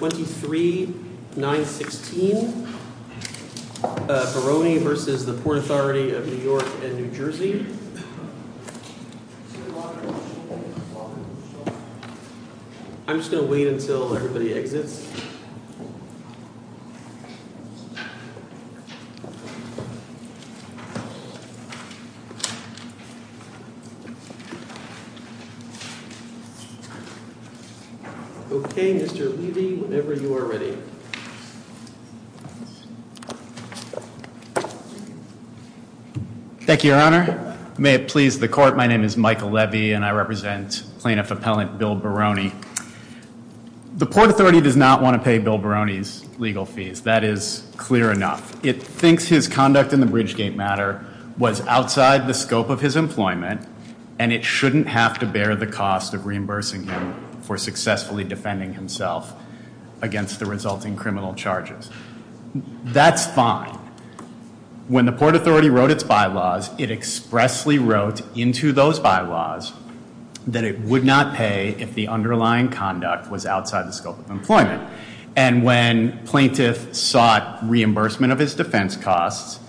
I'm just going to wait until everybody exits. Okay, Mr. Levy, whenever you are ready. Thank you, Your Honor. May it please the court, my name is Michael Levy and I represent plaintiff appellant Bill Baroni. The Port Authority does not want to pay Bill Baroni's legal fees, that is clear enough. It thinks his conduct in the Bridgegate matter was outside the scope of his employment and it shouldn't have to bear the cost of reimbursing him for successfully defending himself against the resulting criminal charges. That's fine. When the Port Authority wrote its bylaws, it expressly wrote into those bylaws that it would not pay if the underlying conduct was outside the scope of employment. And when plaintiff sought reimbursement of his defense costs,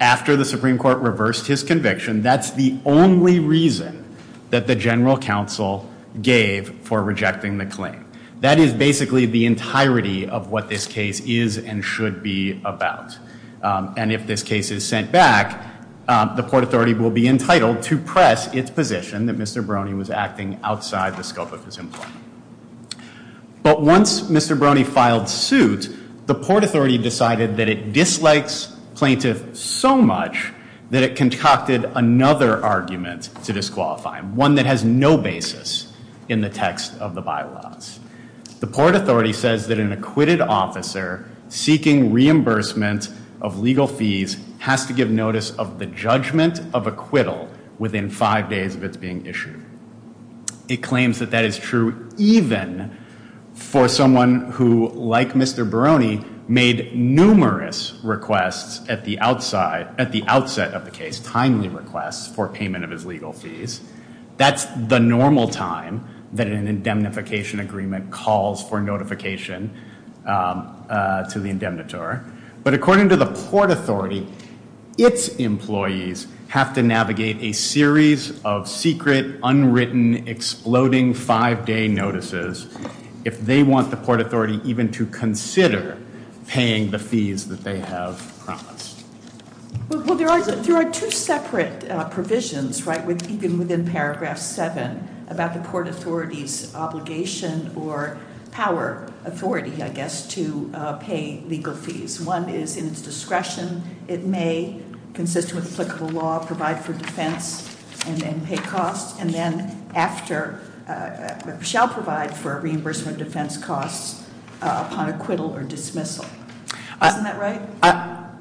after the Supreme Court reversed his conviction, that's the only reason that the General Counsel gave for rejecting the claim. That is basically the entirety of what this case is and should be about. And if this case is sent back, the Port Authority will be entitled to press its position that Mr. Baroni was acting outside the scope of his employment. But once Mr. Baroni filed suit, the Port Authority decided that it dislikes plaintiff so much that it concocted another argument to disqualify him, one that has no basis in the text of the bylaws. The Port Authority says that an acquitted officer seeking reimbursement of legal fees has to give notice of the judgment of acquittal within five days of its being issued. It claims that that is true even for someone who, like Mr. Baroni, made numerous requests at the outset of the case, timely requests for payment of his legal fees. That's the normal time that an indemnification agreement calls for notification to the indemnitor. But according to the Port Authority, its employees have to navigate a series of secret, paying the fees that they have promised. Well, there are two separate provisions, right, even within Paragraph 7, about the Port Authority's obligation or power, authority, I guess, to pay legal fees. One is in its discretion. It may, consistent with applicable law, provide for defense and then pay costs and then after shall provide for a reimbursement of defense costs upon acquittal or dismissal. Isn't that right?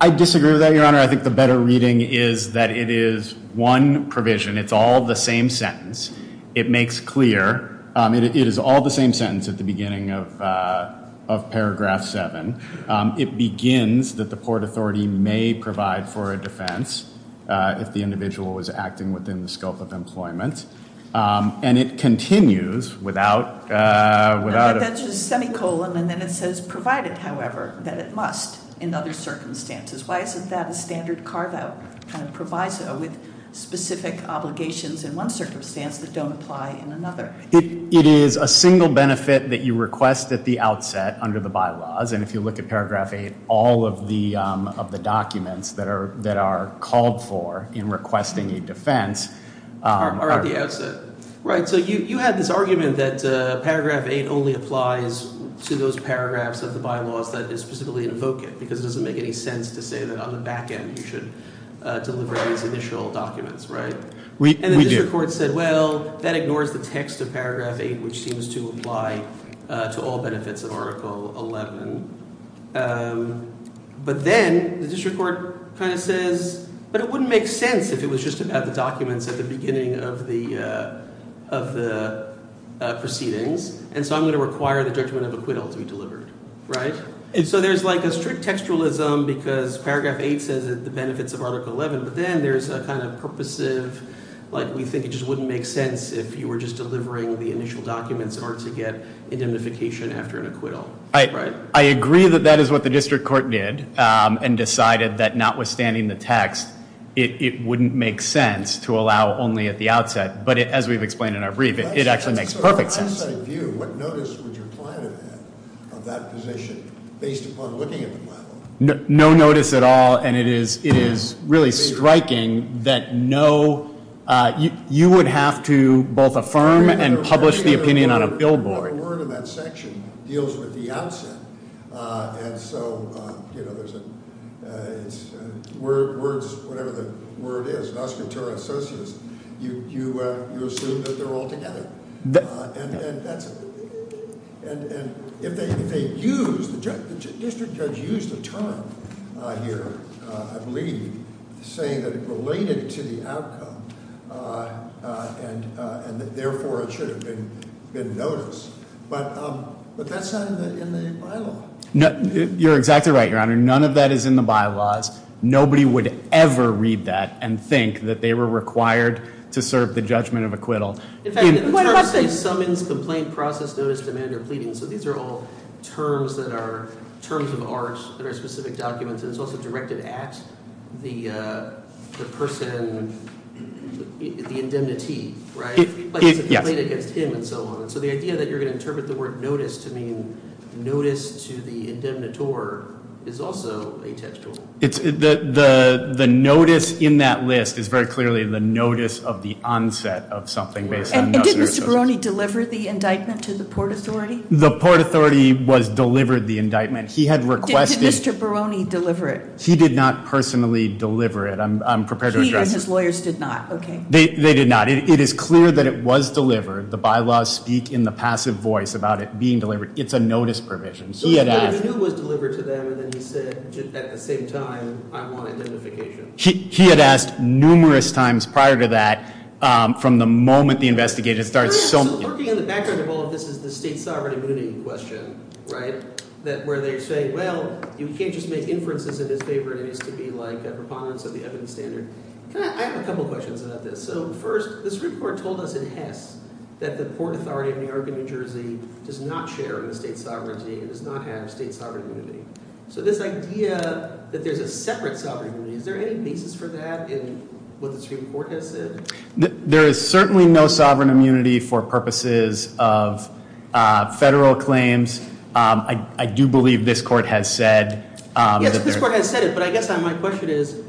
I disagree with that, Your Honor. I think the better reading is that it is one provision. It's all the same sentence. It makes clear. It is all the same sentence at the beginning of Paragraph 7. It begins that the Port Authority may provide for a defense if the individual was acting within the scope of employment. And it continues without... That's just semicolon and then it says provided, however, that it must in other circumstances. Why isn't that a standard carve-out kind of proviso with specific obligations in one circumstance that don't apply in another? It is a single benefit that you request at the outset under the bylaws. And if you look at Paragraph 8, all of the documents that are called for in requesting a defense... Are at the outset. Right. So you had this argument that Paragraph 8 only applies to those paragraphs of the bylaws that is specifically invoking because it doesn't make any sense to say that on the back end you should deliver these initial documents, right? We do. The district court said, well, that ignores the text of Paragraph 8, which seems to apply to all benefits of Article 11. But then the district court kind of says, but it wouldn't make sense if it was just about the documents at the beginning of the proceedings. And so I'm going to require the judgment of acquittal to be delivered, right? And so there's like a strict textualism because Paragraph 8 says that the benefits of Article 11. But then there's a kind of purposive, like we think it just wouldn't make sense if you were just delivering the initial documents in order to get indemnification after an acquittal, right? I agree that that is what the district court did and decided that notwithstanding the text, it wouldn't make sense to allow only at the outset. But as we've explained in our brief, it actually makes perfect sense. So from an outside view, what notice would your client have had of that position based upon looking at the bylaws? No notice at all. And it is really striking that no, you would have to both affirm and publish the opinion on a billboard. The word in that section deals with the outset. And so, you know, there's a word, whatever the word is, an auscultura associus, you assume that they're all together. And if they use, the district judge used a term here, I believe, saying that it related to the outcome and that therefore it should have been noticed. But that's not in the bylaw. You're exactly right, Your Honor. None of that is in the bylaws. Nobody would ever read that and think that they were required to serve the judgment of acquittal. In fact, the terms they summons, complaint, process, notice, demand, or pleading, so these are all terms that are terms of art that are specific documents. And it's also directed at the person, the indemnity, right? It's a complaint against him and so on. So the idea that you're going to interpret the word notice to mean notice to the indemnitor is also atextual. The notice in that list is very clearly the notice of the onset of something based on notice. And did Mr. Barone deliver the indictment to the Port Authority? The Port Authority was delivered the indictment. Did Mr. Barone deliver it? He did not personally deliver it. I'm prepared to address it. He and his lawyers did not, okay. They did not. It is clear that it was delivered. The bylaws speak in the passive voice about it being delivered. It's a notice provision. So he knew it was delivered to them and then he said at the same time, I want identification. He had asked numerous times prior to that from the moment the investigator started. So working in the background of all of this is the state sovereignty mooting question, right, where they say, well, you can't just make inferences in his favor and it needs to be like a preponderance of the evidence standard. I have a couple questions about this. So first, this report told us in Hess that the Port Authority of New York and New Jersey does not share in the state sovereignty. It does not have state sovereignty. So this idea that there's a separate sovereignty, is there any basis for that in what the Supreme Court has said? There is certainly no sovereign immunity for purposes of federal claims. I do believe this court has said. Yes, this court has said it, but I guess my question is,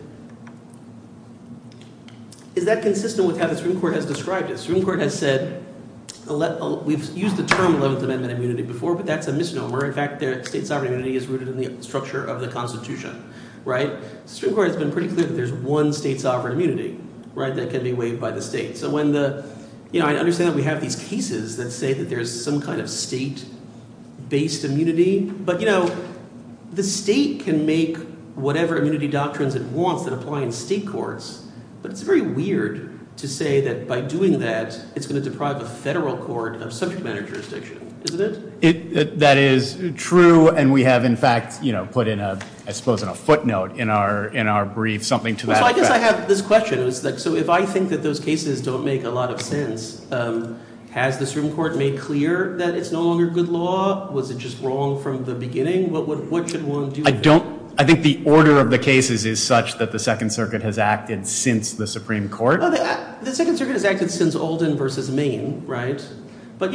is that consistent with how the Supreme Court has described it? The Supreme Court has said – we've used the term Eleventh Amendment immunity before, but that's a misnomer. In fact, state sovereignty is rooted in the structure of the Constitution. The Supreme Court has been pretty clear that there's one state sovereign immunity that can be waived by the state. So when the – I understand that we have these cases that say that there's some kind of state-based immunity, but the state can make whatever immunity doctrines it wants that apply in state courts. But it's very weird to say that by doing that, it's going to deprive a federal court of subject matter jurisdiction, isn't it? That is true, and we have in fact put in a – I suppose in a footnote in our brief something to that effect. So I guess I have this question. So if I think that those cases don't make a lot of sense, has the Supreme Court made clear that it's no longer good law? Was it just wrong from the beginning? What should one do? I don't – I think the order of the cases is such that the Second Circuit has acted since the Supreme Court. The Second Circuit has acted since Oldham v. Maine, right? But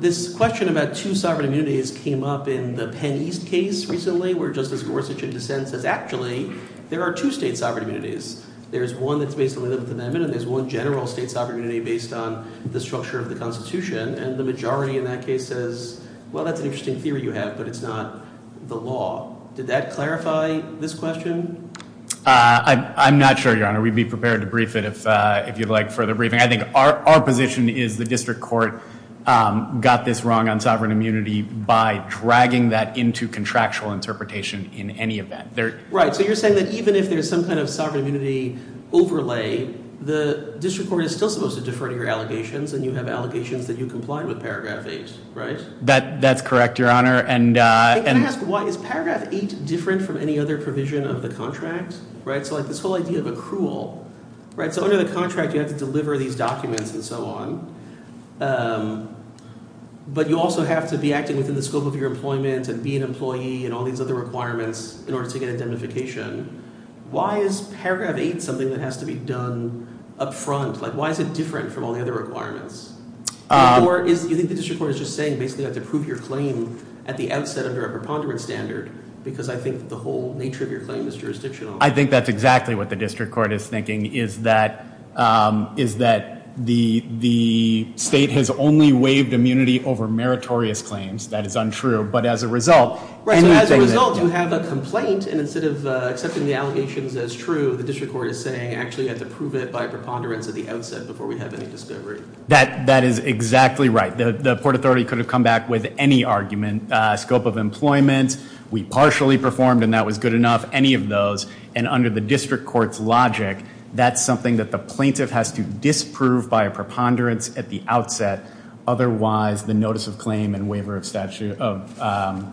this question about two sovereign immunities came up in the Penn East case recently where Justice Gorsuch in dissent says actually there are two state sovereign immunities. There's one that's based on the Eleventh Amendment and there's one general state sovereign immunity based on the structure of the Constitution. And the majority in that case says, well, that's an interesting theory you have, but it's not the law. Did that clarify this question? I'm not sure, Your Honor. We'd be prepared to brief it if you'd like further briefing. I think our position is the district court got this wrong on sovereign immunity by dragging that into contractual interpretation in any event. Right, so you're saying that even if there's some kind of sovereign immunity overlay, the district court is still supposed to defer to your allegations and you have allegations that you complied with Paragraph 8, right? That's correct, Your Honor. Can I ask why? Is Paragraph 8 different from any other provision of the contract? So like this whole idea of accrual, right? So under the contract you have to deliver these documents and so on, but you also have to be acting within the scope of your employment and be an employee and all these other requirements in order to get indemnification. Why is Paragraph 8 something that has to be done up front? Like why is it different from all the other requirements? Or do you think the district court is just saying basically you have to prove your claim at the outset under a preponderance standard because I think the whole nature of your claim is jurisdictional? I think that's exactly what the district court is thinking, is that the state has only waived immunity over meritorious claims. That is untrue. Right, so as a result you have a complaint and instead of accepting the allegations as true, the district court is saying actually you have to prove it by a preponderance at the outset before we have any discovery. That is exactly right. The Port Authority could have come back with any argument, scope of employment, we partially performed and that was good enough, any of those. And under the district court's logic, that's something that the plaintiff has to disprove by a preponderance at the outset. Otherwise, the notice of claim and waiver of sovereign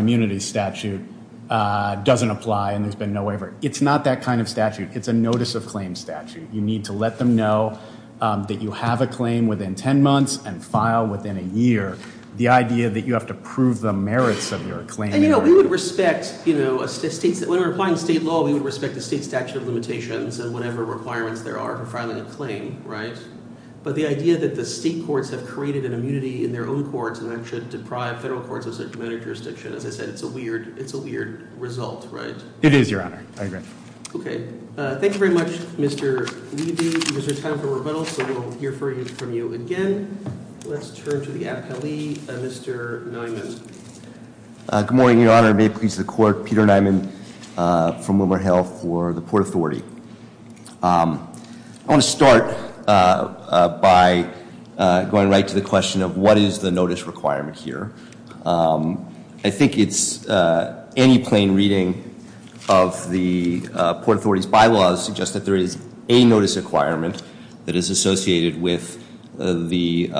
immunity statute doesn't apply and there's been no waiver. It's not that kind of statute. It's a notice of claim statute. You need to let them know that you have a claim within ten months and file within a year. The idea that you have to prove the merits of your claim. And we would respect, when we're applying state law, we would respect the state statute of limitations and whatever requirements there are for filing a claim, right? But the idea that the state courts have created an immunity in their own courts and that should deprive federal courts of such merit jurisdiction, as I said, it's a weird result, right? It is, Your Honor. I agree. Okay. Thank you very much, Mr. Levy. There's no time for rebuttals, so we'll hear from you again. Let's turn to the appellee, Mr. Neumann. Good morning, Your Honor. May it please the court, Peter Neumann from Wilmer Health for the Port Authority. I want to start by going right to the question of what is the notice requirement here. I think it's any plain reading of the Port Authority's bylaws suggest that there is a notice requirement that is associated with the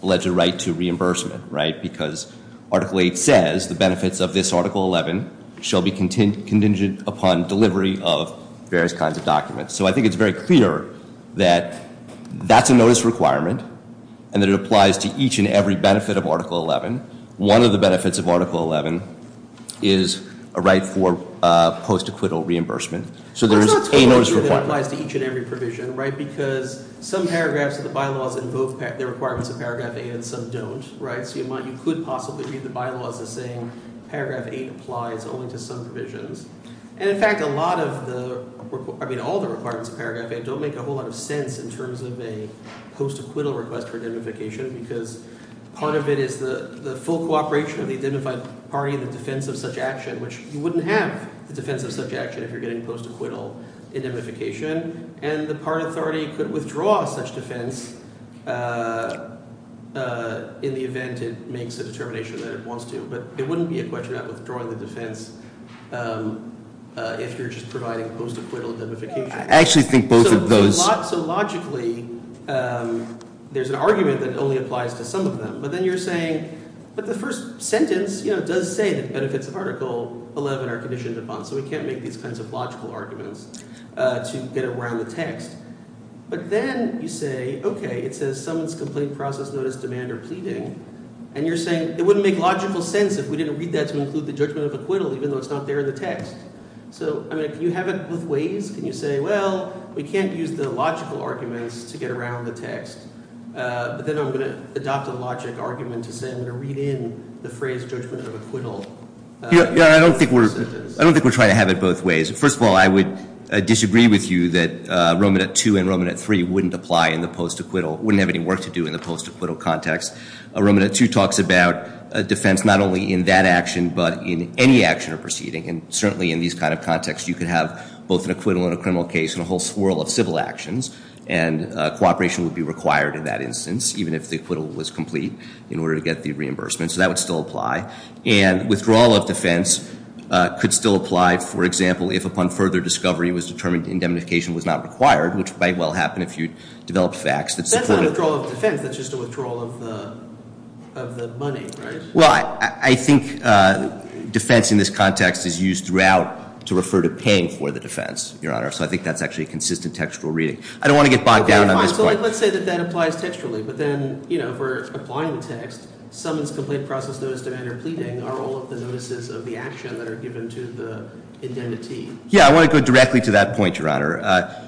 alleged right to reimbursement, right? Because Article 8 says the benefits of this Article 11 shall be contingent upon delivery of various kinds of documents. So I think it's very clear that that's a notice requirement and that it applies to each and every benefit of Article 11. One of the benefits of Article 11 is a right for post-acquittal reimbursement. So there is a notice requirement. That applies to each and every provision, right, because some paragraphs of the bylaws invoke the requirements of Paragraph 8 and some don't, right? So you could possibly read the bylaws as saying Paragraph 8 applies only to some provisions. And, in fact, a lot of the – I mean all the requirements of Paragraph 8 don't make a whole lot of sense in terms of a post-acquittal request for indemnification because part of it is the full cooperation of the indemnified party in the defense of such action, which you wouldn't have the defense of such action if you're getting post-acquittal indemnification. And the party authority could withdraw such defense in the event it makes a determination that it wants to. But it wouldn't be a question of withdrawing the defense if you're just providing post-acquittal indemnification. I actually think both of those – So logically there's an argument that only applies to some of them. But then you're saying – but the first sentence does say that the benefits of Article 11 are conditioned upon, so we can't make these kinds of logical arguments to get around the text. But then you say, okay, it says someone's complaint process, notice, demand, or pleading. And you're saying it wouldn't make logical sense if we didn't read that to include the judgment of acquittal even though it's not there in the text. So I mean can you have it both ways? Can you say, well, we can't use the logical arguments to get around the text. But then I'm going to adopt a logic argument to say I'm going to read in the phrase judgment of acquittal. Yeah, I don't think we're – I don't think we're trying to have it both ways. First of all, I would disagree with you that Roman at 2 and Roman at 3 wouldn't apply in the post-acquittal – wouldn't have any work to do in the post-acquittal context. Roman at 2 talks about defense not only in that action but in any action or proceeding. And certainly in these kind of contexts you could have both an acquittal and a criminal case and a whole swirl of civil actions. And cooperation would be required in that instance even if the acquittal was complete in order to get the reimbursement. So that would still apply. And withdrawal of defense could still apply, for example, if upon further discovery it was determined indemnification was not required, which might well happen if you developed facts that supported – That's not a withdrawal of defense. That's just a withdrawal of the money, right? Well, I think defense in this context is used throughout to refer to paying for the defense, Your Honor. So I think that's actually a consistent textual reading. I don't want to get bogged down on this point. Let's say that that applies textually. But then if we're applying the text, summons, complaint, process, notice, demand, or pleading are all of the notices of the action that are given to the indemnity. Yeah, I want to go directly to that point, Your Honor.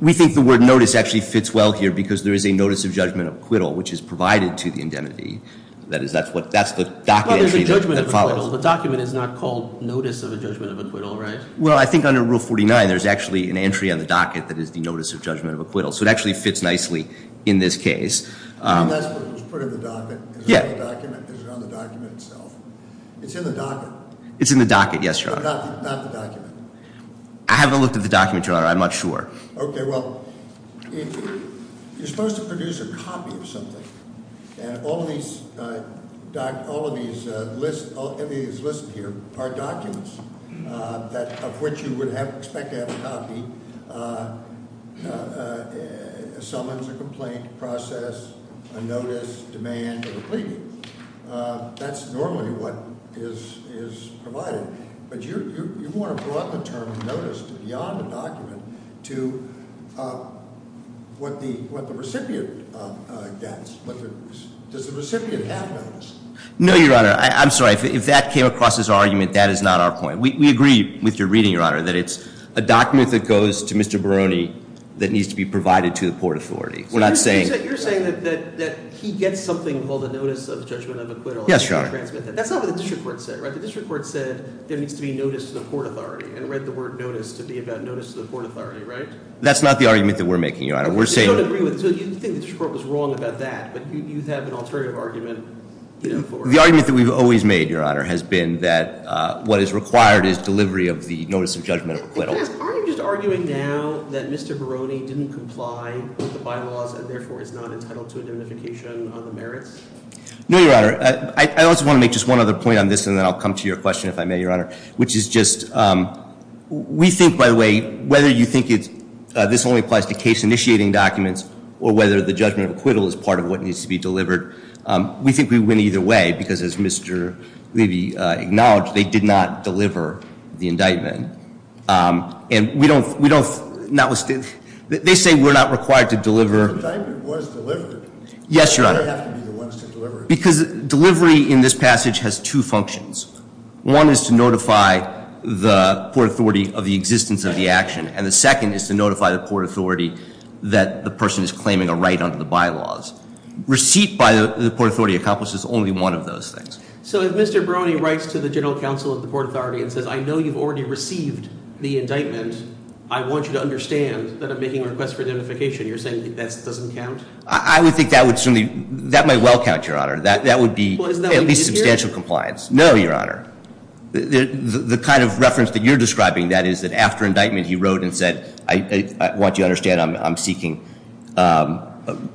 We think the word notice actually fits well here because there is a notice of judgment of acquittal, which is provided to the indemnity. That's the docket entry that follows. Well, there's a judgment of acquittal. The document is not called notice of a judgment of acquittal, right? Well, I think under Rule 49, there's actually an entry on the docket that is the notice of judgment of acquittal. So it actually fits nicely in this case. And that's what was put in the docket? Yeah. Is it on the document itself? It's in the docket. It's in the docket, yes, Your Honor. Not the document. I haven't looked at the document, Your Honor. I'm not sure. Okay, well, you're supposed to produce a copy of something. And all of these lists here are documents of which you would expect to have a copy. Summons, a complaint, process, a notice, demand, or a pleading. That's normally what is provided. But you want to broad the term notice beyond the document to what the recipient gets. Does the recipient have notice? No, Your Honor. I'm sorry. If that came across as an argument, that is not our point. We agree with your reading, Your Honor, that it's a document that goes to Mr. Barone that needs to be provided to the Port Authority. We're not saying- You're saying that he gets something called a notice of judgment of acquittal. Yes, Your Honor. That's not what the district court said, right? The district court said there needs to be notice to the Port Authority and read the word notice to be about notice to the Port Authority, right? That's not the argument that we're making, Your Honor. We're saying- So you think the district court was wrong about that, but you have an alternative argument for- The argument that we've always made, Your Honor, has been that what is required is delivery of the notice of judgment of acquittal. Are you just arguing now that Mr. Barone didn't comply with the bylaws and therefore is not entitled to indemnification on the merits? No, Your Honor. I also want to make just one other point on this, and then I'll come to your question if I may, Your Honor, which is just- We think, by the way, whether you think this only applies to case-initiating documents or whether the judgment of acquittal is part of what needs to be delivered, we think we win either way because, as Mr. Levy acknowledged, they did not deliver the indictment. And we don't- They say we're not required to deliver- The indictment was delivered. Yes, Your Honor. They have to be the ones to deliver it. Because delivery in this passage has two functions. One is to notify the Port Authority of the existence of the action, and the second is to notify the Port Authority that the person is claiming a right under the bylaws. Receipt by the Port Authority accomplishes only one of those things. So if Mr. Barone writes to the General Counsel of the Port Authority and says, I know you've already received the indictment, I want you to understand that I'm making a request for indemnification, you're saying that doesn't count? I would think that might well count, Your Honor. That would be at least substantial compliance. No, Your Honor. The kind of reference that you're describing, that is that after indictment he wrote and said, I want you to understand I'm seeking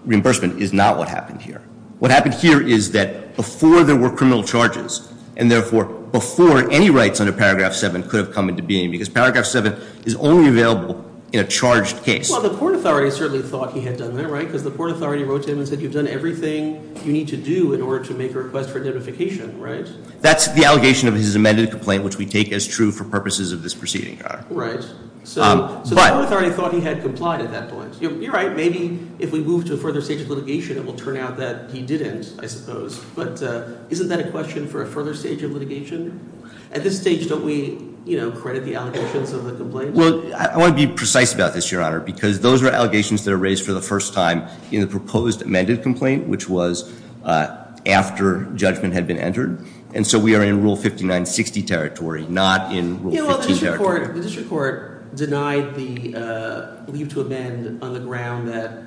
reimbursement, is not what happened here. What happened here is that before there were criminal charges, and therefore before any rights under Paragraph 7 could have come into being, because Paragraph 7 is only available in a charged case- The Port Authority wrote to him and said you've done everything you need to do in order to make a request for indemnification, right? That's the allegation of his amended complaint, which we take as true for purposes of this proceeding, Your Honor. Right. So the Port Authority thought he had complied at that point. You're right. Maybe if we move to a further stage of litigation, it will turn out that he didn't, I suppose. But isn't that a question for a further stage of litigation? At this stage, don't we credit the allegations of the complaint? Well, I want to be precise about this, Your Honor, because those are allegations that are raised for the first time in the proposed amended complaint, which was after judgment had been entered. And so we are in Rule 5960 territory, not in Rule 15 territory. The district court denied the leave to amend on the ground that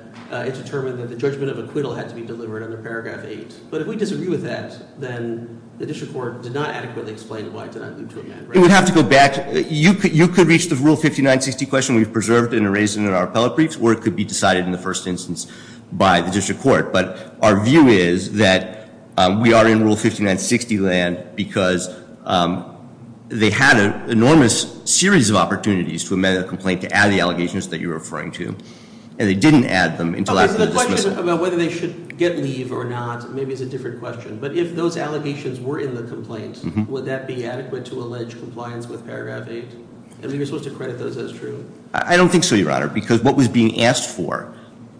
it determined that the judgment of acquittal had to be delivered under Paragraph 8. But if we disagree with that, then the district court did not adequately explain why it did not leave to amend. It would have to go back. You could reach the Rule 5960 question. We've preserved and erased it in our appellate briefs, or it could be decided in the first instance by the district court. But our view is that we are in Rule 5960 land because they had an enormous series of opportunities to amend a complaint, to add the allegations that you're referring to, and they didn't add them until after the dismissal. The question about whether they should get leave or not maybe is a different question. But if those allegations were in the complaint, would that be adequate to allege compliance with Paragraph 8? I mean, you're supposed to credit those as true? I don't think so, Your Honor, because what was being asked for,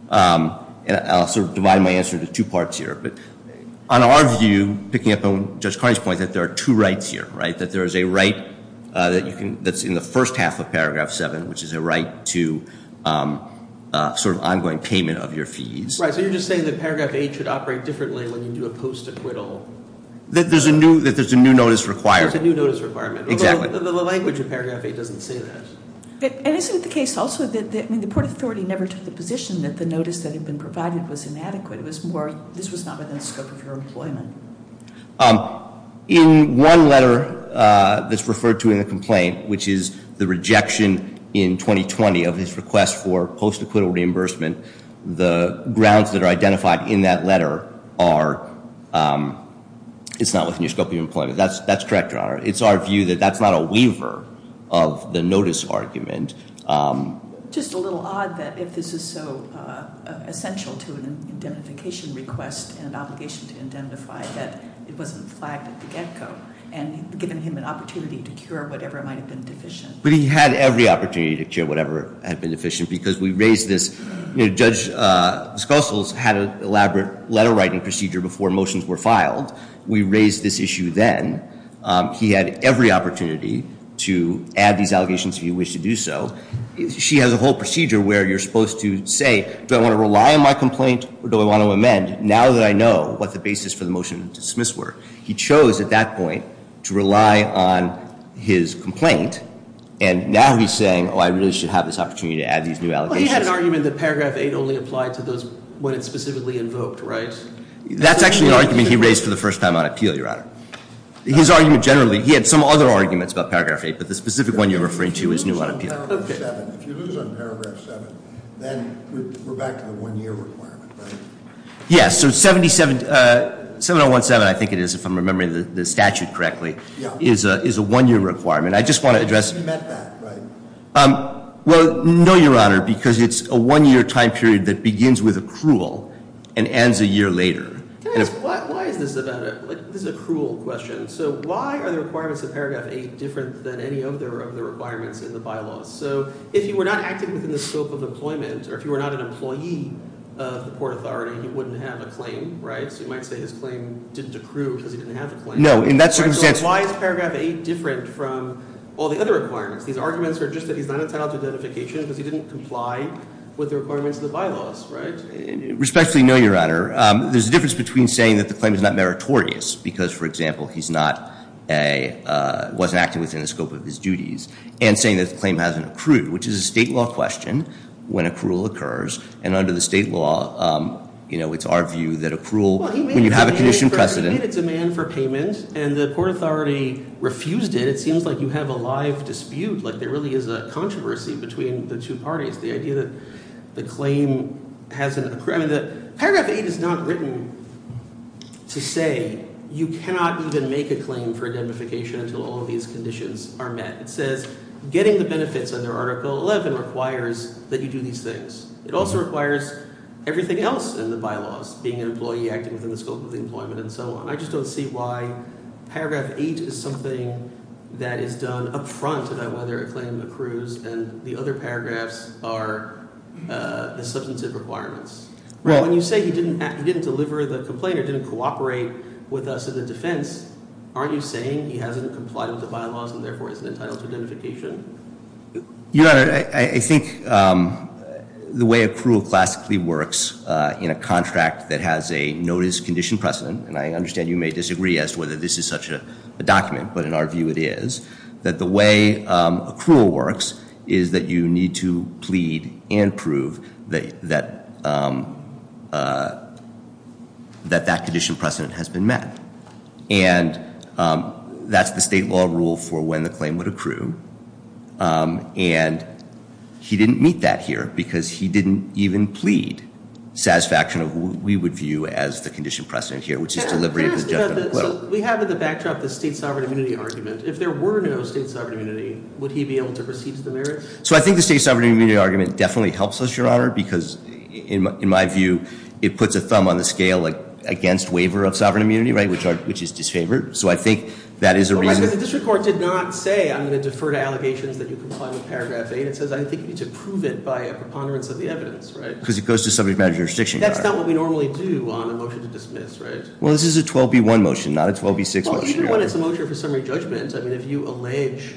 and I'll sort of divide my answer into two parts here. But on our view, picking up on Judge Carney's point, that there are two rights here, right, that there is a right that's in the first half of Paragraph 7, which is a right to sort of ongoing payment of your fees. Right, so you're just saying that Paragraph 8 should operate differently when you do a post-acquittal. That there's a new notice required. There's a new notice requirement. Exactly. Although the language in Paragraph 8 doesn't say that. And isn't it the case also that the Port Authority never took the position that the notice that had been provided was inadequate? It was more, this was not within the scope of your employment. In one letter that's referred to in the complaint, which is the rejection in 2020 of his request for post-acquittal reimbursement, the grounds that are identified in that letter are, it's not within the scope of your employment. That's correct, Your Honor. It's our view that that's not a weaver of the notice argument. Just a little odd that if this is so essential to an indemnification request and obligation to indemnify that it wasn't flagged at the get-go and given him an opportunity to cure whatever might have been deficient. But he had every opportunity to cure whatever had been deficient because we raised this. You know, Judge Schoessl had an elaborate letter writing procedure before motions were filed. We raised this issue then. He had every opportunity to add these allegations if he wished to do so. She has a whole procedure where you're supposed to say, do I want to rely on my complaint or do I want to amend now that I know what the basis for the motion to dismiss were? He chose at that point to rely on his complaint. And now he's saying, oh, I really should have this opportunity to add these new allegations. But he had an argument that paragraph 8 only applied to those when it's specifically invoked, right? That's actually an argument he raised for the first time on appeal, Your Honor. His argument generally, he had some other arguments about paragraph 8, but the specific one you're referring to is new on appeal. If you lose on paragraph 7, then we're back to the one-year requirement, right? Yes. So 7017, I think it is, if I'm remembering the statute correctly, is a one-year requirement. I just want to address — You meant that, right? Well, no, Your Honor, because it's a one-year time period that begins with accrual and ends a year later. Can I ask, why is this about accrual question? So why are the requirements of paragraph 8 different than any other of the requirements in the bylaws? So if you were not acting within the scope of employment or if you were not an employee of the Port Authority, you wouldn't have a claim, right? So you might say his claim didn't accrue because he didn't have a claim. No, in that circumstance — So why is paragraph 8 different from all the other requirements? These arguments are just that he's not entitled to identification because he didn't comply with the requirements of the bylaws, right? Respectfully, no, Your Honor. There's a difference between saying that the claim is not meritorious because, for example, he's not a — wasn't acting within the scope of his duties and saying that the claim hasn't accrued, which is a state law question when accrual occurs. And under the state law, you know, it's our view that accrual, when you have a condition precedent — Well, he made it a man for payment. He made it a man for payment, and the Port Authority refused it. It seems like you have a live dispute, like there really is a controversy between the two parties. The idea that the claim hasn't — I mean, paragraph 8 is not written to say you cannot even make a claim for indemnification until all of these conditions are met. It says getting the benefits under Article 11 requires that you do these things. It also requires everything else in the bylaws, being an employee, acting within the scope of employment and so on. I just don't see why paragraph 8 is something that is done up front about whether a claim accrues and the other paragraphs are substantive requirements. When you say he didn't deliver the complaint or didn't cooperate with us in the defense, aren't you saying he hasn't complied with the bylaws and therefore isn't entitled to indemnification? Your Honor, I think the way accrual classically works in a contract that has a notice condition precedent, and I understand you may disagree as to whether this is such a document, but in our view it is, that the way accrual works is that you need to plead and prove that that condition precedent has been met. And that's the state law rule for when the claim would accrue. And he didn't meet that here because he didn't even plead satisfaction of what we would view as the condition precedent here, which is delivery of the judgment. So we have in the backdrop the state sovereign immunity argument. If there were no state sovereign immunity, would he be able to receive the merit? So I think the state sovereign immunity argument definitely helps us, Your Honor, because in my view it puts a thumb on the scale against waiver of sovereign immunity, which is disfavored. So I think that is a reason- But the district court did not say I'm going to defer to allegations that you comply with paragraph 8. It says I think you need to prove it by a preponderance of the evidence, right? Because it goes to subject matter jurisdiction, Your Honor. That's not what we normally do on a motion to dismiss, right? Well, this is a 12B1 motion, not a 12B6 motion, Your Honor. Well, even when it's a motion for summary judgment, I mean, if you allege-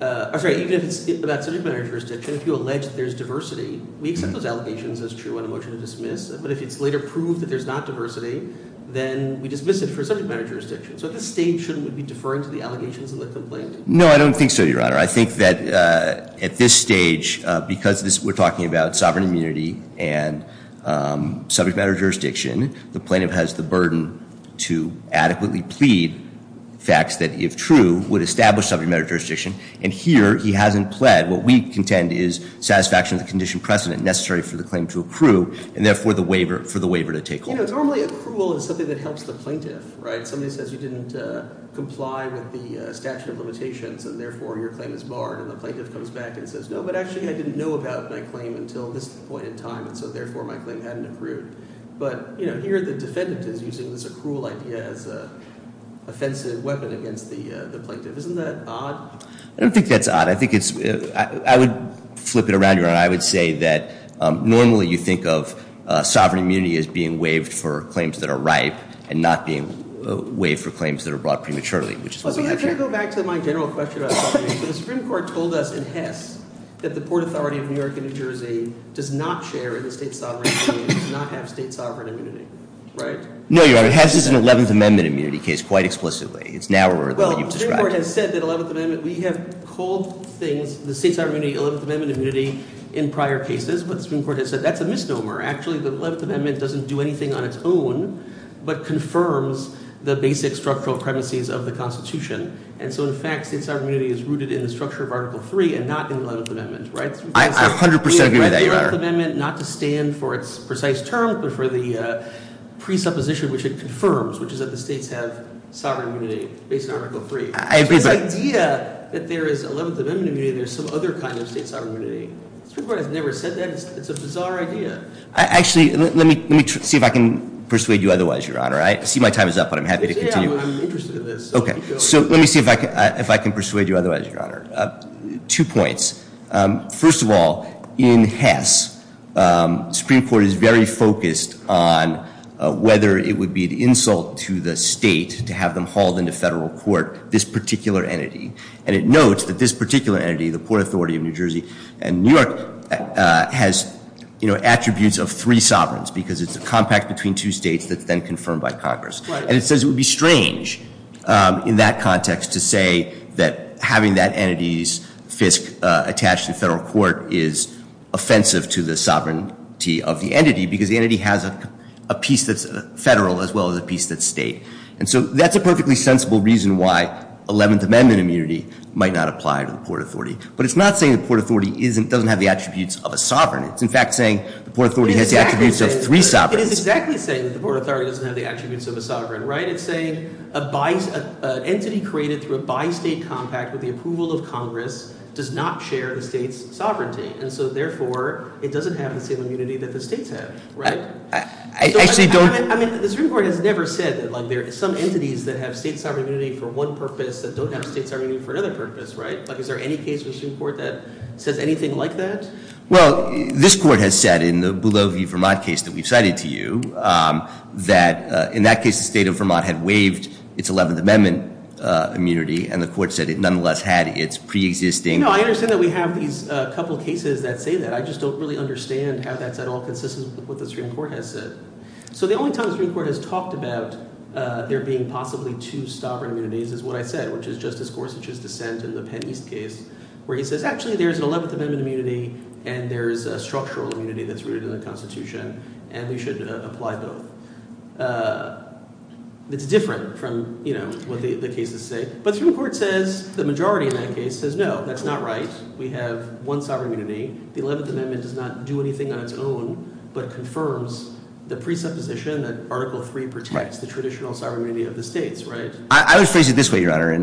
I'm sorry, even if it's about subject matter jurisdiction, if you allege that there's diversity, we accept those allegations as true on a motion to dismiss. But if it's later proved that there's not diversity, then we dismiss it for subject matter jurisdiction. So at this stage, shouldn't we be deferring to the allegations in the complaint? No, I don't think so, Your Honor. I think that at this stage, because we're talking about sovereign immunity and subject matter jurisdiction, the plaintiff has the burden to adequately plead facts that, if true, would establish subject matter jurisdiction. And here, he hasn't pled. What we contend is satisfaction of the condition precedent necessary for the claim to accrue, and therefore for the waiver to take hold. You know, normally accrual is something that helps the plaintiff, right? Somebody says you didn't comply with the statute of limitations, and therefore your claim is barred. And the plaintiff comes back and says, no, but actually I didn't know about my claim until this point in time, and so therefore my claim hadn't accrued. But, you know, here the defendant is using this accrual idea as an offensive weapon against the plaintiff. Isn't that odd? I don't think that's odd. But I would say that normally you think of sovereign immunity as being waived for claims that are ripe and not being waived for claims that are brought prematurely, which is what we have here. I'm going to go back to my general question about sovereign immunity. The Supreme Court told us in Hess that the Port Authority of New York and New Jersey does not share in the state sovereign immunity and does not have state sovereign immunity, right? No, Your Honor. Hess is an 11th Amendment immunity case, quite explicitly. It's narrower than what you've described. The Supreme Court has said that 11th Amendment, we have called things, the state sovereign immunity, 11th Amendment immunity in prior cases. But the Supreme Court has said that's a misnomer. Actually, the 11th Amendment doesn't do anything on its own but confirms the basic structural premises of the Constitution. And so, in fact, state sovereign immunity is rooted in the structure of Article III and not in the 11th Amendment, right? The 11th Amendment, not to stand for its precise term, but for the presupposition which it confirms, which is that the states have sovereign immunity based on Article III. This idea that there is 11th Amendment immunity, there's some other kind of state sovereign immunity. The Supreme Court has never said that. It's a bizarre idea. Actually, let me see if I can persuade you otherwise, Your Honor. I see my time is up, but I'm happy to continue. I'm interested in this. Okay. So let me see if I can persuade you otherwise, Your Honor. Two points. First of all, in Hess, the Supreme Court is very focused on whether it would be an insult to the state to have them hauled into federal court this particular entity. And it notes that this particular entity, the Port Authority of New Jersey and New York, has attributes of three sovereigns because it's a compact between two states that's then confirmed by Congress. And it says it would be strange in that context to say that having that entity's fisc attached to the federal court is offensive to the sovereignty of the entity because the entity has a piece that's federal as well as a piece that's state. And so that's a perfectly sensible reason why 11th Amendment immunity might not apply to the Port Authority. But it's not saying the Port Authority doesn't have the attributes of a sovereign. It's, in fact, saying the Port Authority has the attributes of three sovereigns. It is exactly saying that the Port Authority doesn't have the attributes of a sovereign, right? It's saying an entity created through a bi-state compact with the approval of Congress does not share the state's sovereignty. And so, therefore, it doesn't have the same immunity that the states have, right? I actually don't— I mean, the Supreme Court has never said that there are some entities that have state sovereign immunity for one purpose that don't have state sovereign immunity for another purpose, right? Is there any case in the Supreme Court that says anything like that? Well, this court has said in the Boulogne v. Vermont case that we've cited to you that in that case the state of Vermont had waived its 11th Amendment immunity, and the court said it nonetheless had its preexisting— No, I understand that we have these couple cases that say that. I just don't really understand how that's at all consistent with what the Supreme Court has said. So the only time the Supreme Court has talked about there being possibly two sovereign immunities is what I said, which is Justice Gorsuch's dissent in the Penn East case where he says, actually, there's an 11th Amendment immunity, and there's a structural immunity that's rooted in the Constitution, and we should apply both. It's different from what the cases say. But the Supreme Court says the majority in that case says, no, that's not right. We have one sovereign immunity. The 11th Amendment does not do anything on its own but confirms the presupposition that Article III protects the traditional sovereign immunity of the states, right? I would phrase it this way, Your Honor,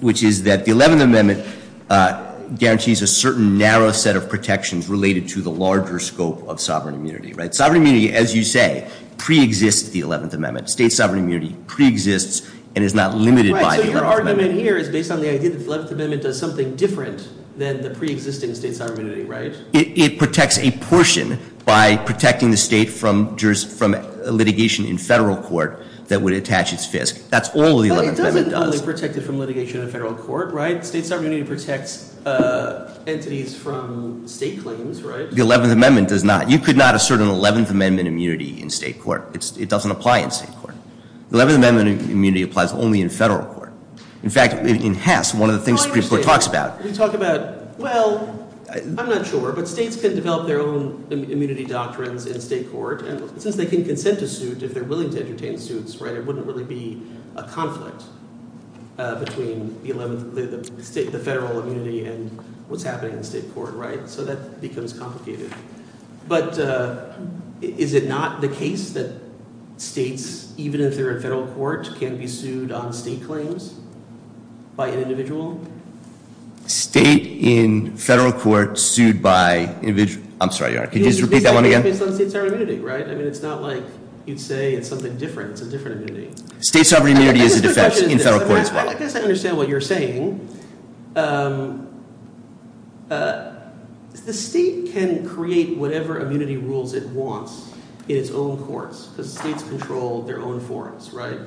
which is that the 11th Amendment guarantees a certain narrow set of protections related to the larger scope of sovereign immunity, right? Sovereign immunity, as you say, preexists the 11th Amendment. State sovereign immunity preexists and is not limited by the 11th Amendment. Right, so your argument here is based on the idea that the 11th Amendment does something different than the preexisting state sovereign immunity, right? It protects a portion by protecting the state from litigation in federal court that would attach its fisc. That's all the 11th Amendment does. But it doesn't only protect it from litigation in federal court, right? State sovereign immunity protects entities from state claims, right? The 11th Amendment does not. You could not assert an 11th Amendment immunity in state court. It doesn't apply in state court. The 11th Amendment immunity applies only in federal court. In fact, in Hess, one of the things the Supreme Court talks about— States can develop their own immunity doctrines in state court. And since they can consent to suit if they're willing to entertain suits, right, it wouldn't really be a conflict between the federal immunity and what's happening in state court, right? So that becomes complicated. But is it not the case that states, even if they're in federal court, can be sued on state claims by an individual? State in federal court sued by—I'm sorry, Your Honor. Could you just repeat that one again? It's on state sovereign immunity, right? I mean it's not like you'd say it's something different. It's a different immunity. State sovereign immunity is a defense in federal court as well. I guess I understand what you're saying. The state can create whatever immunity rules it wants in its own courts because states control their own forms, right?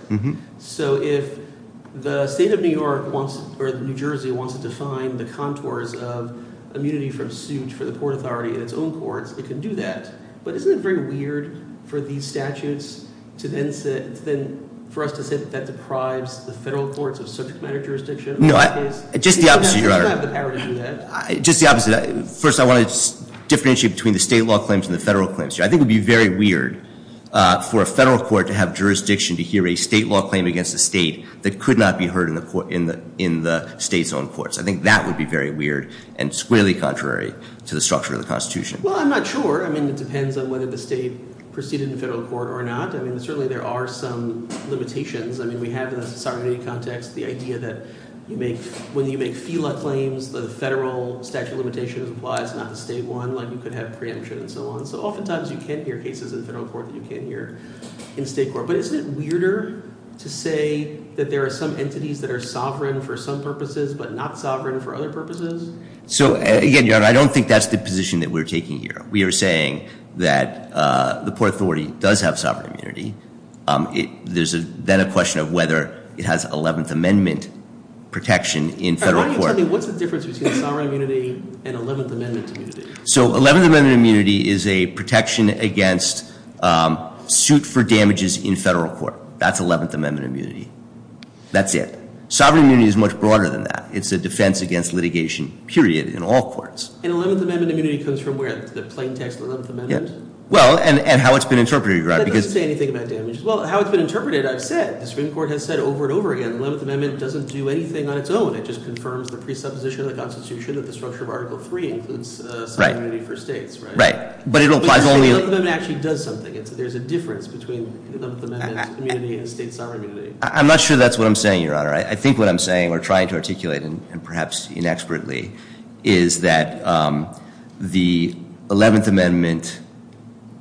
So if the state of New York wants—or New Jersey wants to define the contours of immunity from suit for the court authority in its own courts, it can do that. But isn't it very weird for these statutes to then—for us to say that that deprives the federal courts of subject matter jurisdiction? No, just the opposite, Your Honor. You don't have the power to do that. Just the opposite. First, I want to differentiate between the state law claims and the federal claims. I think it would be very weird for a federal court to have jurisdiction to hear a state law claim against a state that could not be heard in the state's own courts. I think that would be very weird and squarely contrary to the structure of the Constitution. Well, I'm not sure. I mean it depends on whether the state proceeded in federal court or not. I mean certainly there are some limitations. I mean we have in the sovereign immunity context the idea that when you make FILA claims, the federal statute of limitations applies, not the state one. Like you could have preemption and so on. So oftentimes you can hear cases in federal court that you can't hear in state court. But isn't it weirder to say that there are some entities that are sovereign for some purposes but not sovereign for other purposes? So again, Your Honor, I don't think that's the position that we're taking here. We are saying that the poor authority does have sovereign immunity. There's then a question of whether it has Eleventh Amendment protection in federal court. All right. Why don't you tell me what's the difference between sovereign immunity and Eleventh Amendment immunity? So Eleventh Amendment immunity is a protection against suit for damages in federal court. That's Eleventh Amendment immunity. That's it. Sovereign immunity is much broader than that. It's a defense against litigation, period, in all courts. And Eleventh Amendment immunity comes from where? The plain text of Eleventh Amendment? Well, and how it's been interpreted, Your Honor. That doesn't say anything about damages. Well, how it's been interpreted I've said. The Supreme Court has said over and over again. Eleventh Amendment doesn't do anything on its own. It just confirms the presupposition of the Constitution that the structure of Article III includes sovereign immunity for states, right? Right. But it applies only— But Eleventh Amendment actually does something. There's a difference between Eleventh Amendment immunity and state sovereign immunity. I'm not sure that's what I'm saying, Your Honor. I think what I'm saying or trying to articulate, and perhaps inexpertly, is that the Eleventh Amendment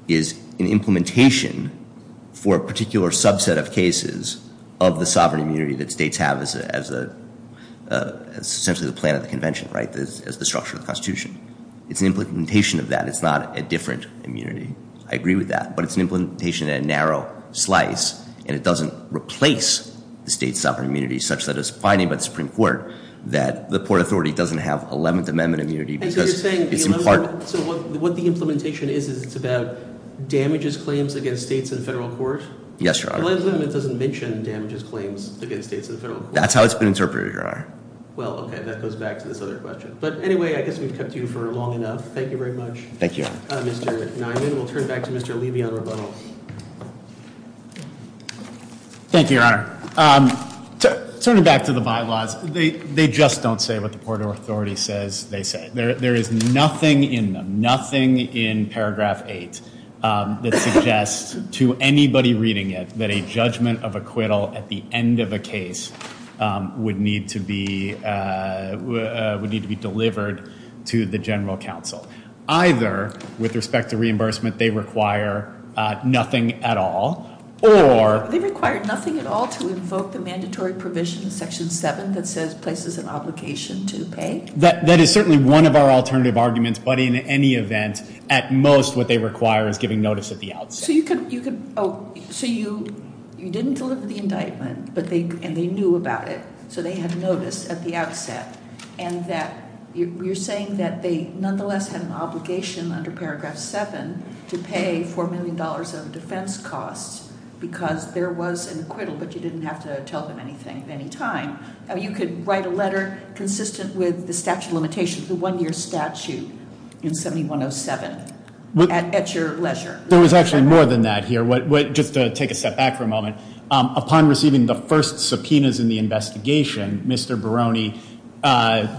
is an implementation for a particular subset of cases of the sovereign immunity that states have as essentially the plan of the convention, right, as the structure of the Constitution. It's an implementation of that. It's not a different immunity. I agree with that. But it's an implementation at a narrow slice, and it doesn't replace the state sovereign immunity such that it's finding by the Supreme Court that the Port Authority doesn't have Eleventh Amendment immunity because it's in part— And so you're saying the Eleventh Amendment—so what the implementation is, is it's about damages claims against states in federal court? Yes, Your Honor. Eleventh Amendment doesn't mention damages claims against states in federal court. That's how it's been interpreted, Your Honor. Well, okay. That goes back to this other question. But anyway, I guess we've kept you for long enough. Thank you very much. Thank you, Your Honor. Mr. Nyman, we'll turn it back to Mr. Levy on rebuttal. Thank you, Your Honor. Turning back to the bylaws, they just don't say what the Port Authority says they say. There is nothing in them, nothing in paragraph 8 that suggests to anybody reading it that a judgment of acquittal at the end of a case would need to be delivered to the general counsel. Either, with respect to reimbursement, they require nothing at all, or— They require nothing at all to invoke the mandatory provision in section 7 that says places an obligation to pay? That is certainly one of our alternative arguments, but in any event, at most what they require is giving notice at the outset. So you didn't deliver the indictment, and they knew about it, so they had notice at the outset. And you're saying that they nonetheless had an obligation under paragraph 7 to pay $4 million of defense costs because there was an acquittal, but you didn't have to tell them anything at any time. You could write a letter consistent with the statute of limitations, the one-year statute in 7107, at your leisure. There was actually more than that here. Just to take a step back for a moment. Upon receiving the first subpoenas in the investigation, Mr. Barone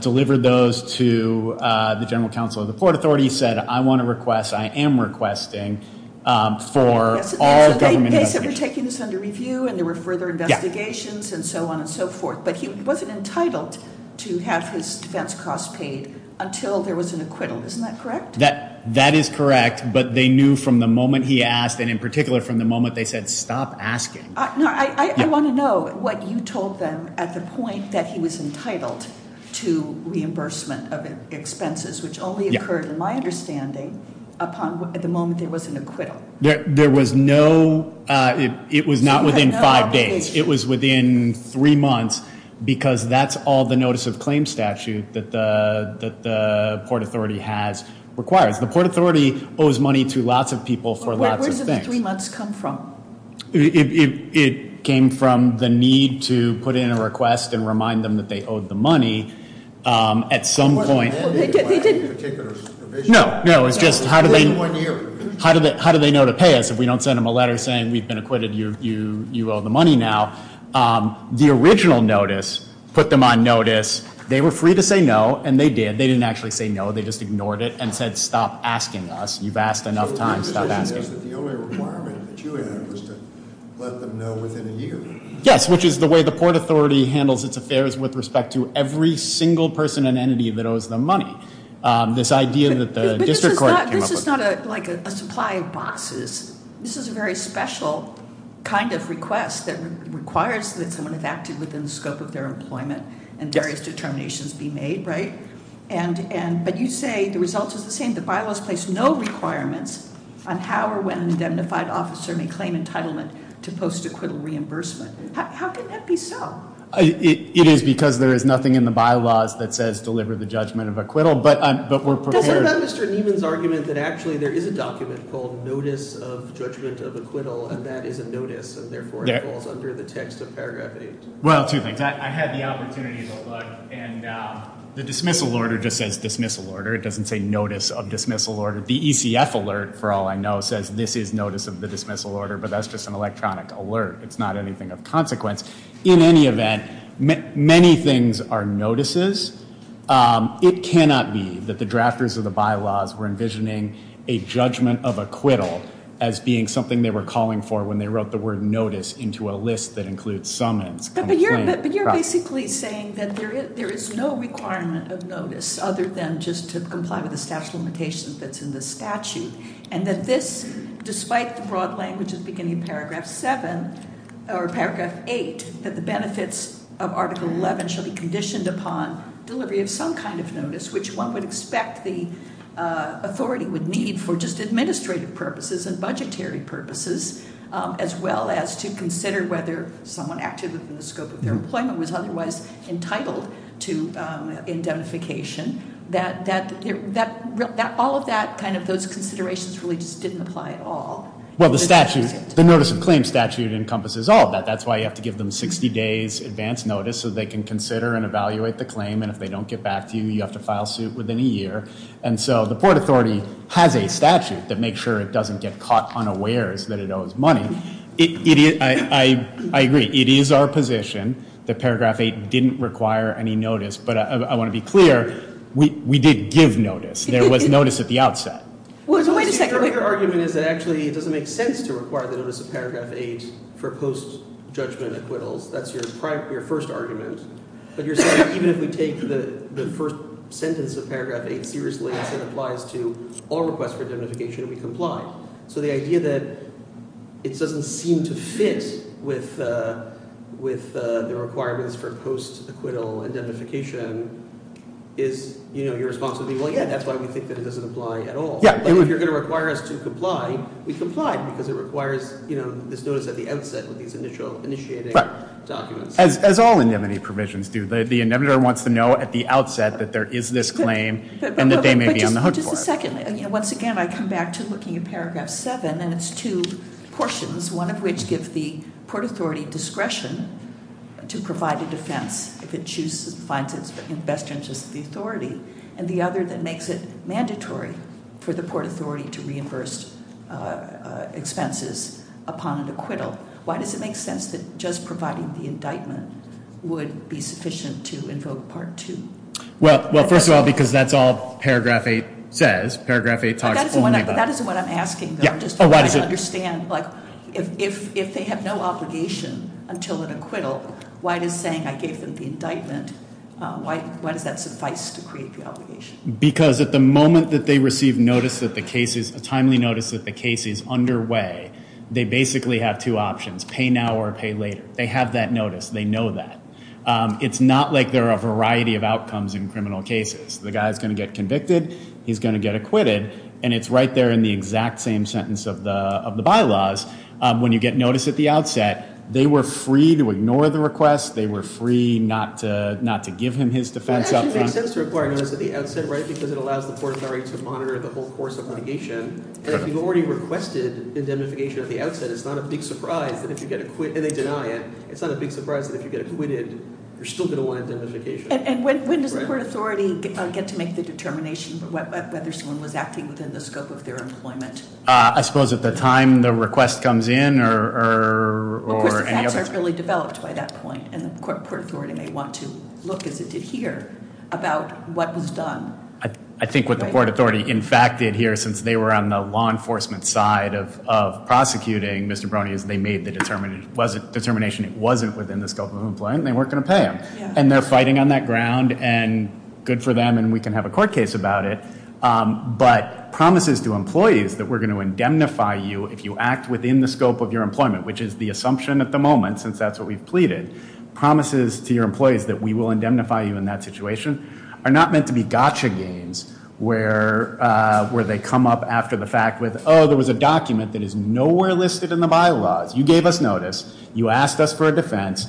delivered those to the general counsel of the Port Authority. He said, I want to request, I am requesting for all government— They said they were taking this under review, and there were further investigations, and so on and so forth. But he wasn't entitled to have his defense costs paid until there was an acquittal. Isn't that correct? That is correct. But they knew from the moment he asked, and in particular from the moment they said, stop asking. No, I want to know what you told them at the point that he was entitled to reimbursement of expenses, which only occurred in my understanding upon the moment there was an acquittal. There was no—it was not within five days. It was within three months because that's all the notice of claim statute that the Port Authority has required. The Port Authority owes money to lots of people for lots of things. Where does the three months come from? It came from the need to put in a request and remind them that they owed the money. At some point— They didn't— No, no, it was just how do they know to pay us if we don't send them a letter saying we've been acquitted, you owe the money now. The original notice put them on notice. They were free to say no, and they did. They didn't actually say no. They just ignored it and said, stop asking us. You've asked enough times. Stop asking. The only requirement that you had was to let them know within a year. Yes, which is the way the Port Authority handles its affairs with respect to every single person and entity that owes them money. This idea that the district court came up with. But this is not like a supply of boxes. This is a very special kind of request that requires that someone have acted within the scope of their employment and various determinations be made, right? But you say the result is the same. The bylaws place no requirements on how or when an indemnified officer may claim entitlement to post-acquittal reimbursement. How can that be so? It is because there is nothing in the bylaws that says deliver the judgment of acquittal, but we're prepared— Doesn't that Mr. Nieman's argument that actually there is a document called Notice of Judgment of Acquittal, and that is a notice, and therefore it falls under the text of paragraph 8? Well, two things. I had the opportunity to look, and the dismissal order just says dismissal order. It doesn't say notice of dismissal order. The ECF alert, for all I know, says this is notice of the dismissal order, but that's just an electronic alert. It's not anything of consequence. In any event, many things are notices. It cannot be that the drafters of the bylaws were envisioning a judgment of acquittal as being something they were calling for when they wrote the word notice into a list that includes summons. But you're basically saying that there is no requirement of notice other than just to comply with the statute of limitations that's in the statute, and that this, despite the broad language at the beginning of paragraph 7 or paragraph 8, that the benefits of Article 11 shall be conditioned upon delivery of some kind of notice, which one would expect the authority would need for just administrative purposes and budgetary purposes, as well as to consider whether someone active in the scope of their employment was otherwise entitled to indemnification. All of those considerations really just didn't apply at all. Well, the notice of claim statute encompasses all of that. That's why you have to give them 60 days advance notice so they can consider and evaluate the claim, and if they don't get back to you, you have to file suit within a year. And so the Port Authority has a statute that makes sure it doesn't get caught unawares that it owes money. I agree. It is our position that paragraph 8 didn't require any notice, but I want to be clear, we did give notice. There was notice at the outset. Wait a second. Your argument is that actually it doesn't make sense to require the notice of paragraph 8 for post-judgment acquittals. That's your first argument. But you're saying even if we take the first sentence of paragraph 8 seriously and say it applies to all requests for indemnification, we comply. So the idea that it doesn't seem to fit with the requirements for post-acquittal indemnification is your response would be, well, yeah, that's why we think that it doesn't apply at all. But if you're going to require us to comply, we comply because it requires this notice at the outset with these initiating documents. As all indemnity provisions do, the indemnitor wants to know at the outset that there is this claim and that they may be on the hook for it. But just a second. Once again, I come back to looking at paragraph 7, and it's two portions, one of which gives the Port Authority discretion to provide a defense if it finds it's best interest to the authority, and the other that makes it mandatory for the Port Authority to reimburse expenses upon an acquittal. Why does it make sense that just providing the indictment would be sufficient to invoke Part 2? Well, first of all, because that's all paragraph 8 says. Paragraph 8 talks only about- But that isn't what I'm asking, though. I'm just trying to understand. If they have no obligation until an acquittal, why does saying I gave them the indictment, why does that suffice to create the obligation? Because at the moment that they receive a timely notice that the case is underway, they basically have two options, pay now or pay later. They have that notice. They know that. It's not like there are a variety of outcomes in criminal cases. The guy is going to get convicted. He's going to get acquitted, and it's right there in the exact same sentence of the bylaws. When you get notice at the outset, they were free to ignore the request. They were free not to give him his defense up front. It actually makes sense to require notice at the outset, right, because it allows the Port Authority to monitor the whole course of litigation. And if you've already requested indemnification at the outset, it's not a big surprise that if you get acqui- And they deny it. It's not a big surprise that if you get acquitted, you're still going to want indemnification. And when does the Port Authority get to make the determination whether someone was acting within the scope of their employment? I suppose at the time the request comes in or- Of course, the facts aren't really developed by that point. And the Port Authority may want to look, as it did here, about what was done. I think what the Port Authority, in fact, did here, since they were on the law enforcement side of prosecuting Mr. Broney, is they made the determination it wasn't within the scope of employment and they weren't going to pay him. And they're fighting on that ground, and good for them, and we can have a court case about it. But promises to employees that we're going to indemnify you if you act within the scope of your employment, which is the assumption at the moment, since that's what we've pleaded, promises to your employees that we will indemnify you in that situation are not meant to be gotcha games where they come up after the fact with, oh, there was a document that is nowhere listed in the bylaws. You gave us notice. You asked us for a defense.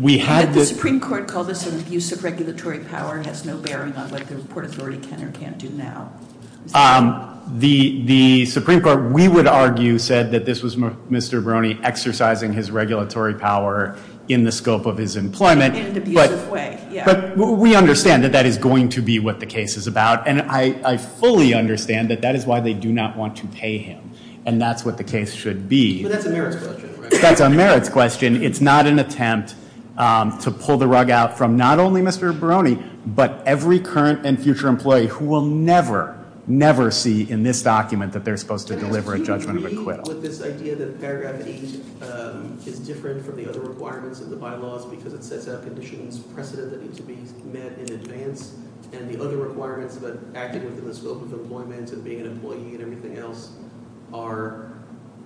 We had the- Did the Supreme Court call this an abuse of regulatory power? It has no bearing on what the Port Authority can or can't do now. The Supreme Court, we would argue, said that this was Mr. Broney exercising his regulatory power in the scope of his employment. In an abusive way, yeah. But we understand that that is going to be what the case is about. And I fully understand that that is why they do not want to pay him. And that's what the case should be. But that's a merits question, right? That's a merits question. It's not an attempt to pull the rug out from not only Mr. Broney, but every current and future employee who will never, never see in this document that they're supposed to deliver a judgment of acquittal. Do you agree with this idea that paragraph 8 is different from the other requirements of the bylaws because it sets out conditions precedent that need to be met in advance, and the other requirements about acting within the scope of employment and being an employee and everything else are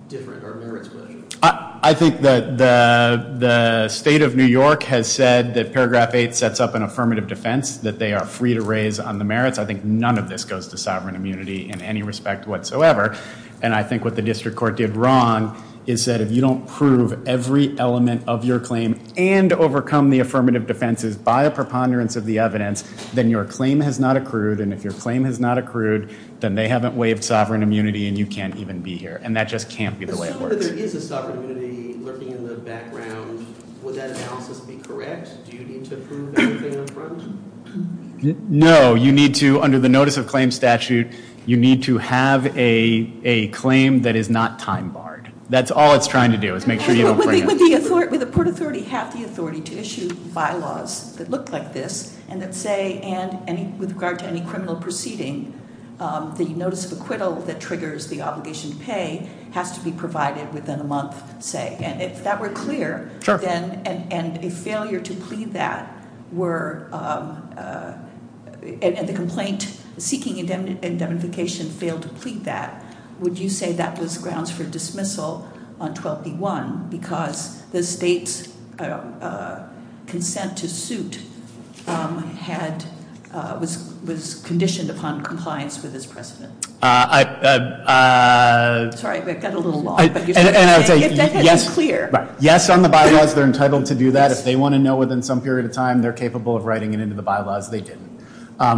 different or merits questions? I think that the State of New York has said that paragraph 8 sets up an affirmative defense, that they are free to raise on the merits. I think none of this goes to sovereign immunity in any respect whatsoever. And I think what the district court did wrong is that if you don't prove every element of your claim and overcome the affirmative defenses by a preponderance of the evidence, then your claim has not accrued. And if your claim has not accrued, then they haven't waived sovereign immunity, and you can't even be here. And that just can't be the way it works. If there is a sovereign immunity lurking in the background, would that analysis be correct? Do you need to prove everything up front? No. You need to, under the notice of claim statute, you need to have a claim that is not time barred. That's all it's trying to do is make sure you don't bring up- Would the court authority have the authority to issue bylaws that look like this and that say, and with regard to any criminal proceeding, the notice of acquittal that triggers the obligation to pay has to be provided within a month, say. And if that were clear, and a failure to plead that were, and the complaint seeking indemnification failed to plead that, would you say that was grounds for dismissal on 12B1? Because the state's consent to suit was conditioned upon compliance with this precedent. Sorry, I got a little lost. And I would say- If that had been clear. Right. Yes, on the bylaws, they're entitled to do that. If they want to know within some period of time, they're capable of writing it into the bylaws. They didn't.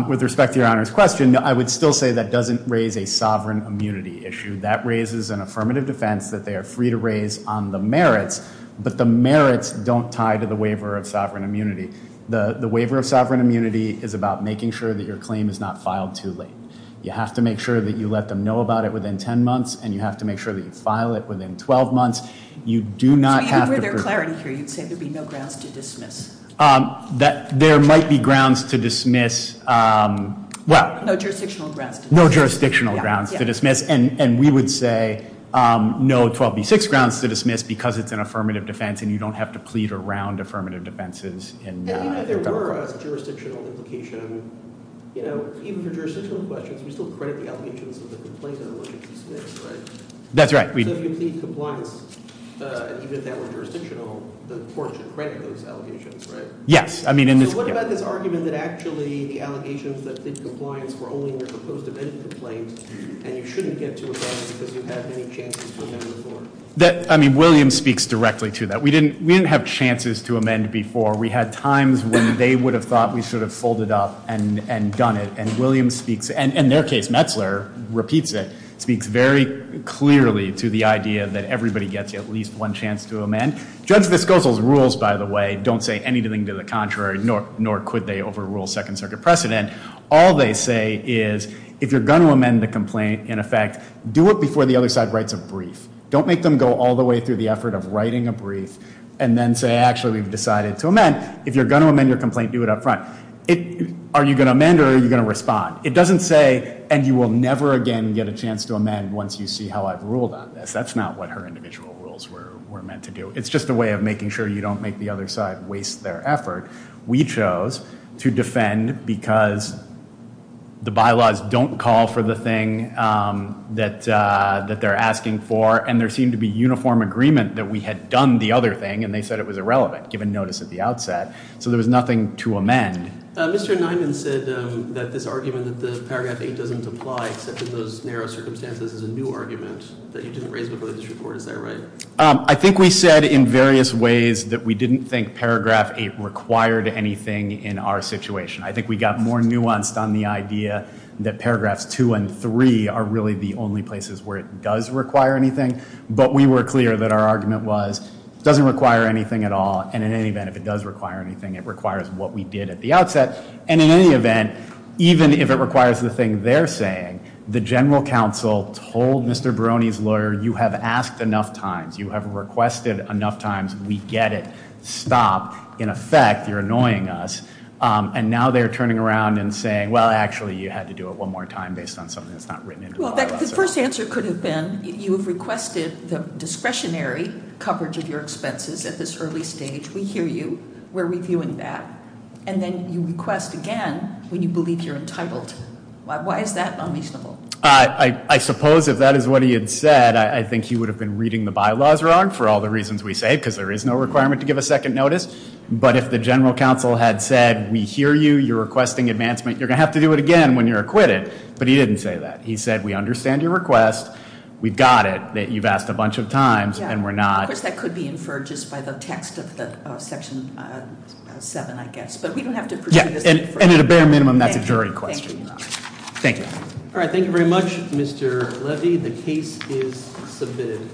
With respect to Your Honor's question, I would still say that doesn't raise a sovereign immunity issue. That raises an affirmative defense that they are free to raise on the merits, but the merits don't tie to the waiver of sovereign immunity. The waiver of sovereign immunity is about making sure that your claim is not filed too late. You have to make sure that you let them know about it within 10 months, and you have to make sure that you file it within 12 months. You do not have to- So even for their clarity here, you'd say there'd be no grounds to dismiss. There might be grounds to dismiss. No jurisdictional grounds to dismiss. No jurisdictional grounds to dismiss. And we would say no 12B6 grounds to dismiss because it's an affirmative defense and you don't have to plead around affirmative defenses. And even if there were a jurisdictional implication, you know, even for jurisdictional questions, we still credit the allegations of the complaint and the allegations dismissed, right? That's right. So if you plead compliance, even if that were jurisdictional, the court should credit those allegations, right? Yes. So what about this argument that actually the allegations that did compliance were only in your proposed amendment complaint and you shouldn't get to amend because you had many chances to amend before? I mean, Williams speaks directly to that. We didn't have chances to amend before. We had times when they would have thought we should have folded up and done it, and Williams speaks, and in their case, Metzler repeats it, And Judge Viscozo's rules, by the way, don't say anything to the contrary, nor could they overrule Second Circuit precedent. All they say is if you're going to amend the complaint, in effect, do it before the other side writes a brief. Don't make them go all the way through the effort of writing a brief and then say, actually, we've decided to amend. If you're going to amend your complaint, do it up front. Are you going to amend or are you going to respond? It doesn't say, and you will never again get a chance to amend once you see how I've ruled on this. That's not what her individual rules were meant to do. It's just a way of making sure you don't make the other side waste their effort. We chose to defend because the bylaws don't call for the thing that they're asking for, and there seemed to be uniform agreement that we had done the other thing, and they said it was irrelevant, given notice at the outset. So there was nothing to amend. Mr. Nyman said that this argument that the paragraph 8 doesn't apply except in those narrow circumstances is a new argument that you didn't raise before the district court. Is that right? I think we said in various ways that we didn't think paragraph 8 required anything in our situation. I think we got more nuanced on the idea that paragraphs 2 and 3 are really the only places where it does require anything, but we were clear that our argument was it doesn't require anything at all, and in any event, if it does require anything, it requires what we did at the outset, and in any event, even if it requires the thing they're saying, the general counsel told Mr. Barone's lawyer, you have asked enough times. You have requested enough times. We get it. Stop. In effect, you're annoying us, and now they're turning around and saying, well, actually, you had to do it one more time based on something that's not written into the bylaws. Well, the first answer could have been you have requested the discretionary coverage of your expenses at this early stage. We hear you. We're reviewing that, and then you request again when you believe you're entitled. Why is that unreasonable? I suppose if that is what he had said, I think he would have been reading the bylaws wrong for all the reasons we say, because there is no requirement to give a second notice, but if the general counsel had said we hear you, you're requesting advancement, you're going to have to do it again when you're acquitted, but he didn't say that. He said we understand your request, we've got it, that you've asked a bunch of times, and we're not. Of course, that could be inferred just by the text of Section 7, I guess, but we don't have to pursue this. And at a bare minimum, that's a jury question. Thank you. All right, thank you very much, Mr. Levy. The case is submitted.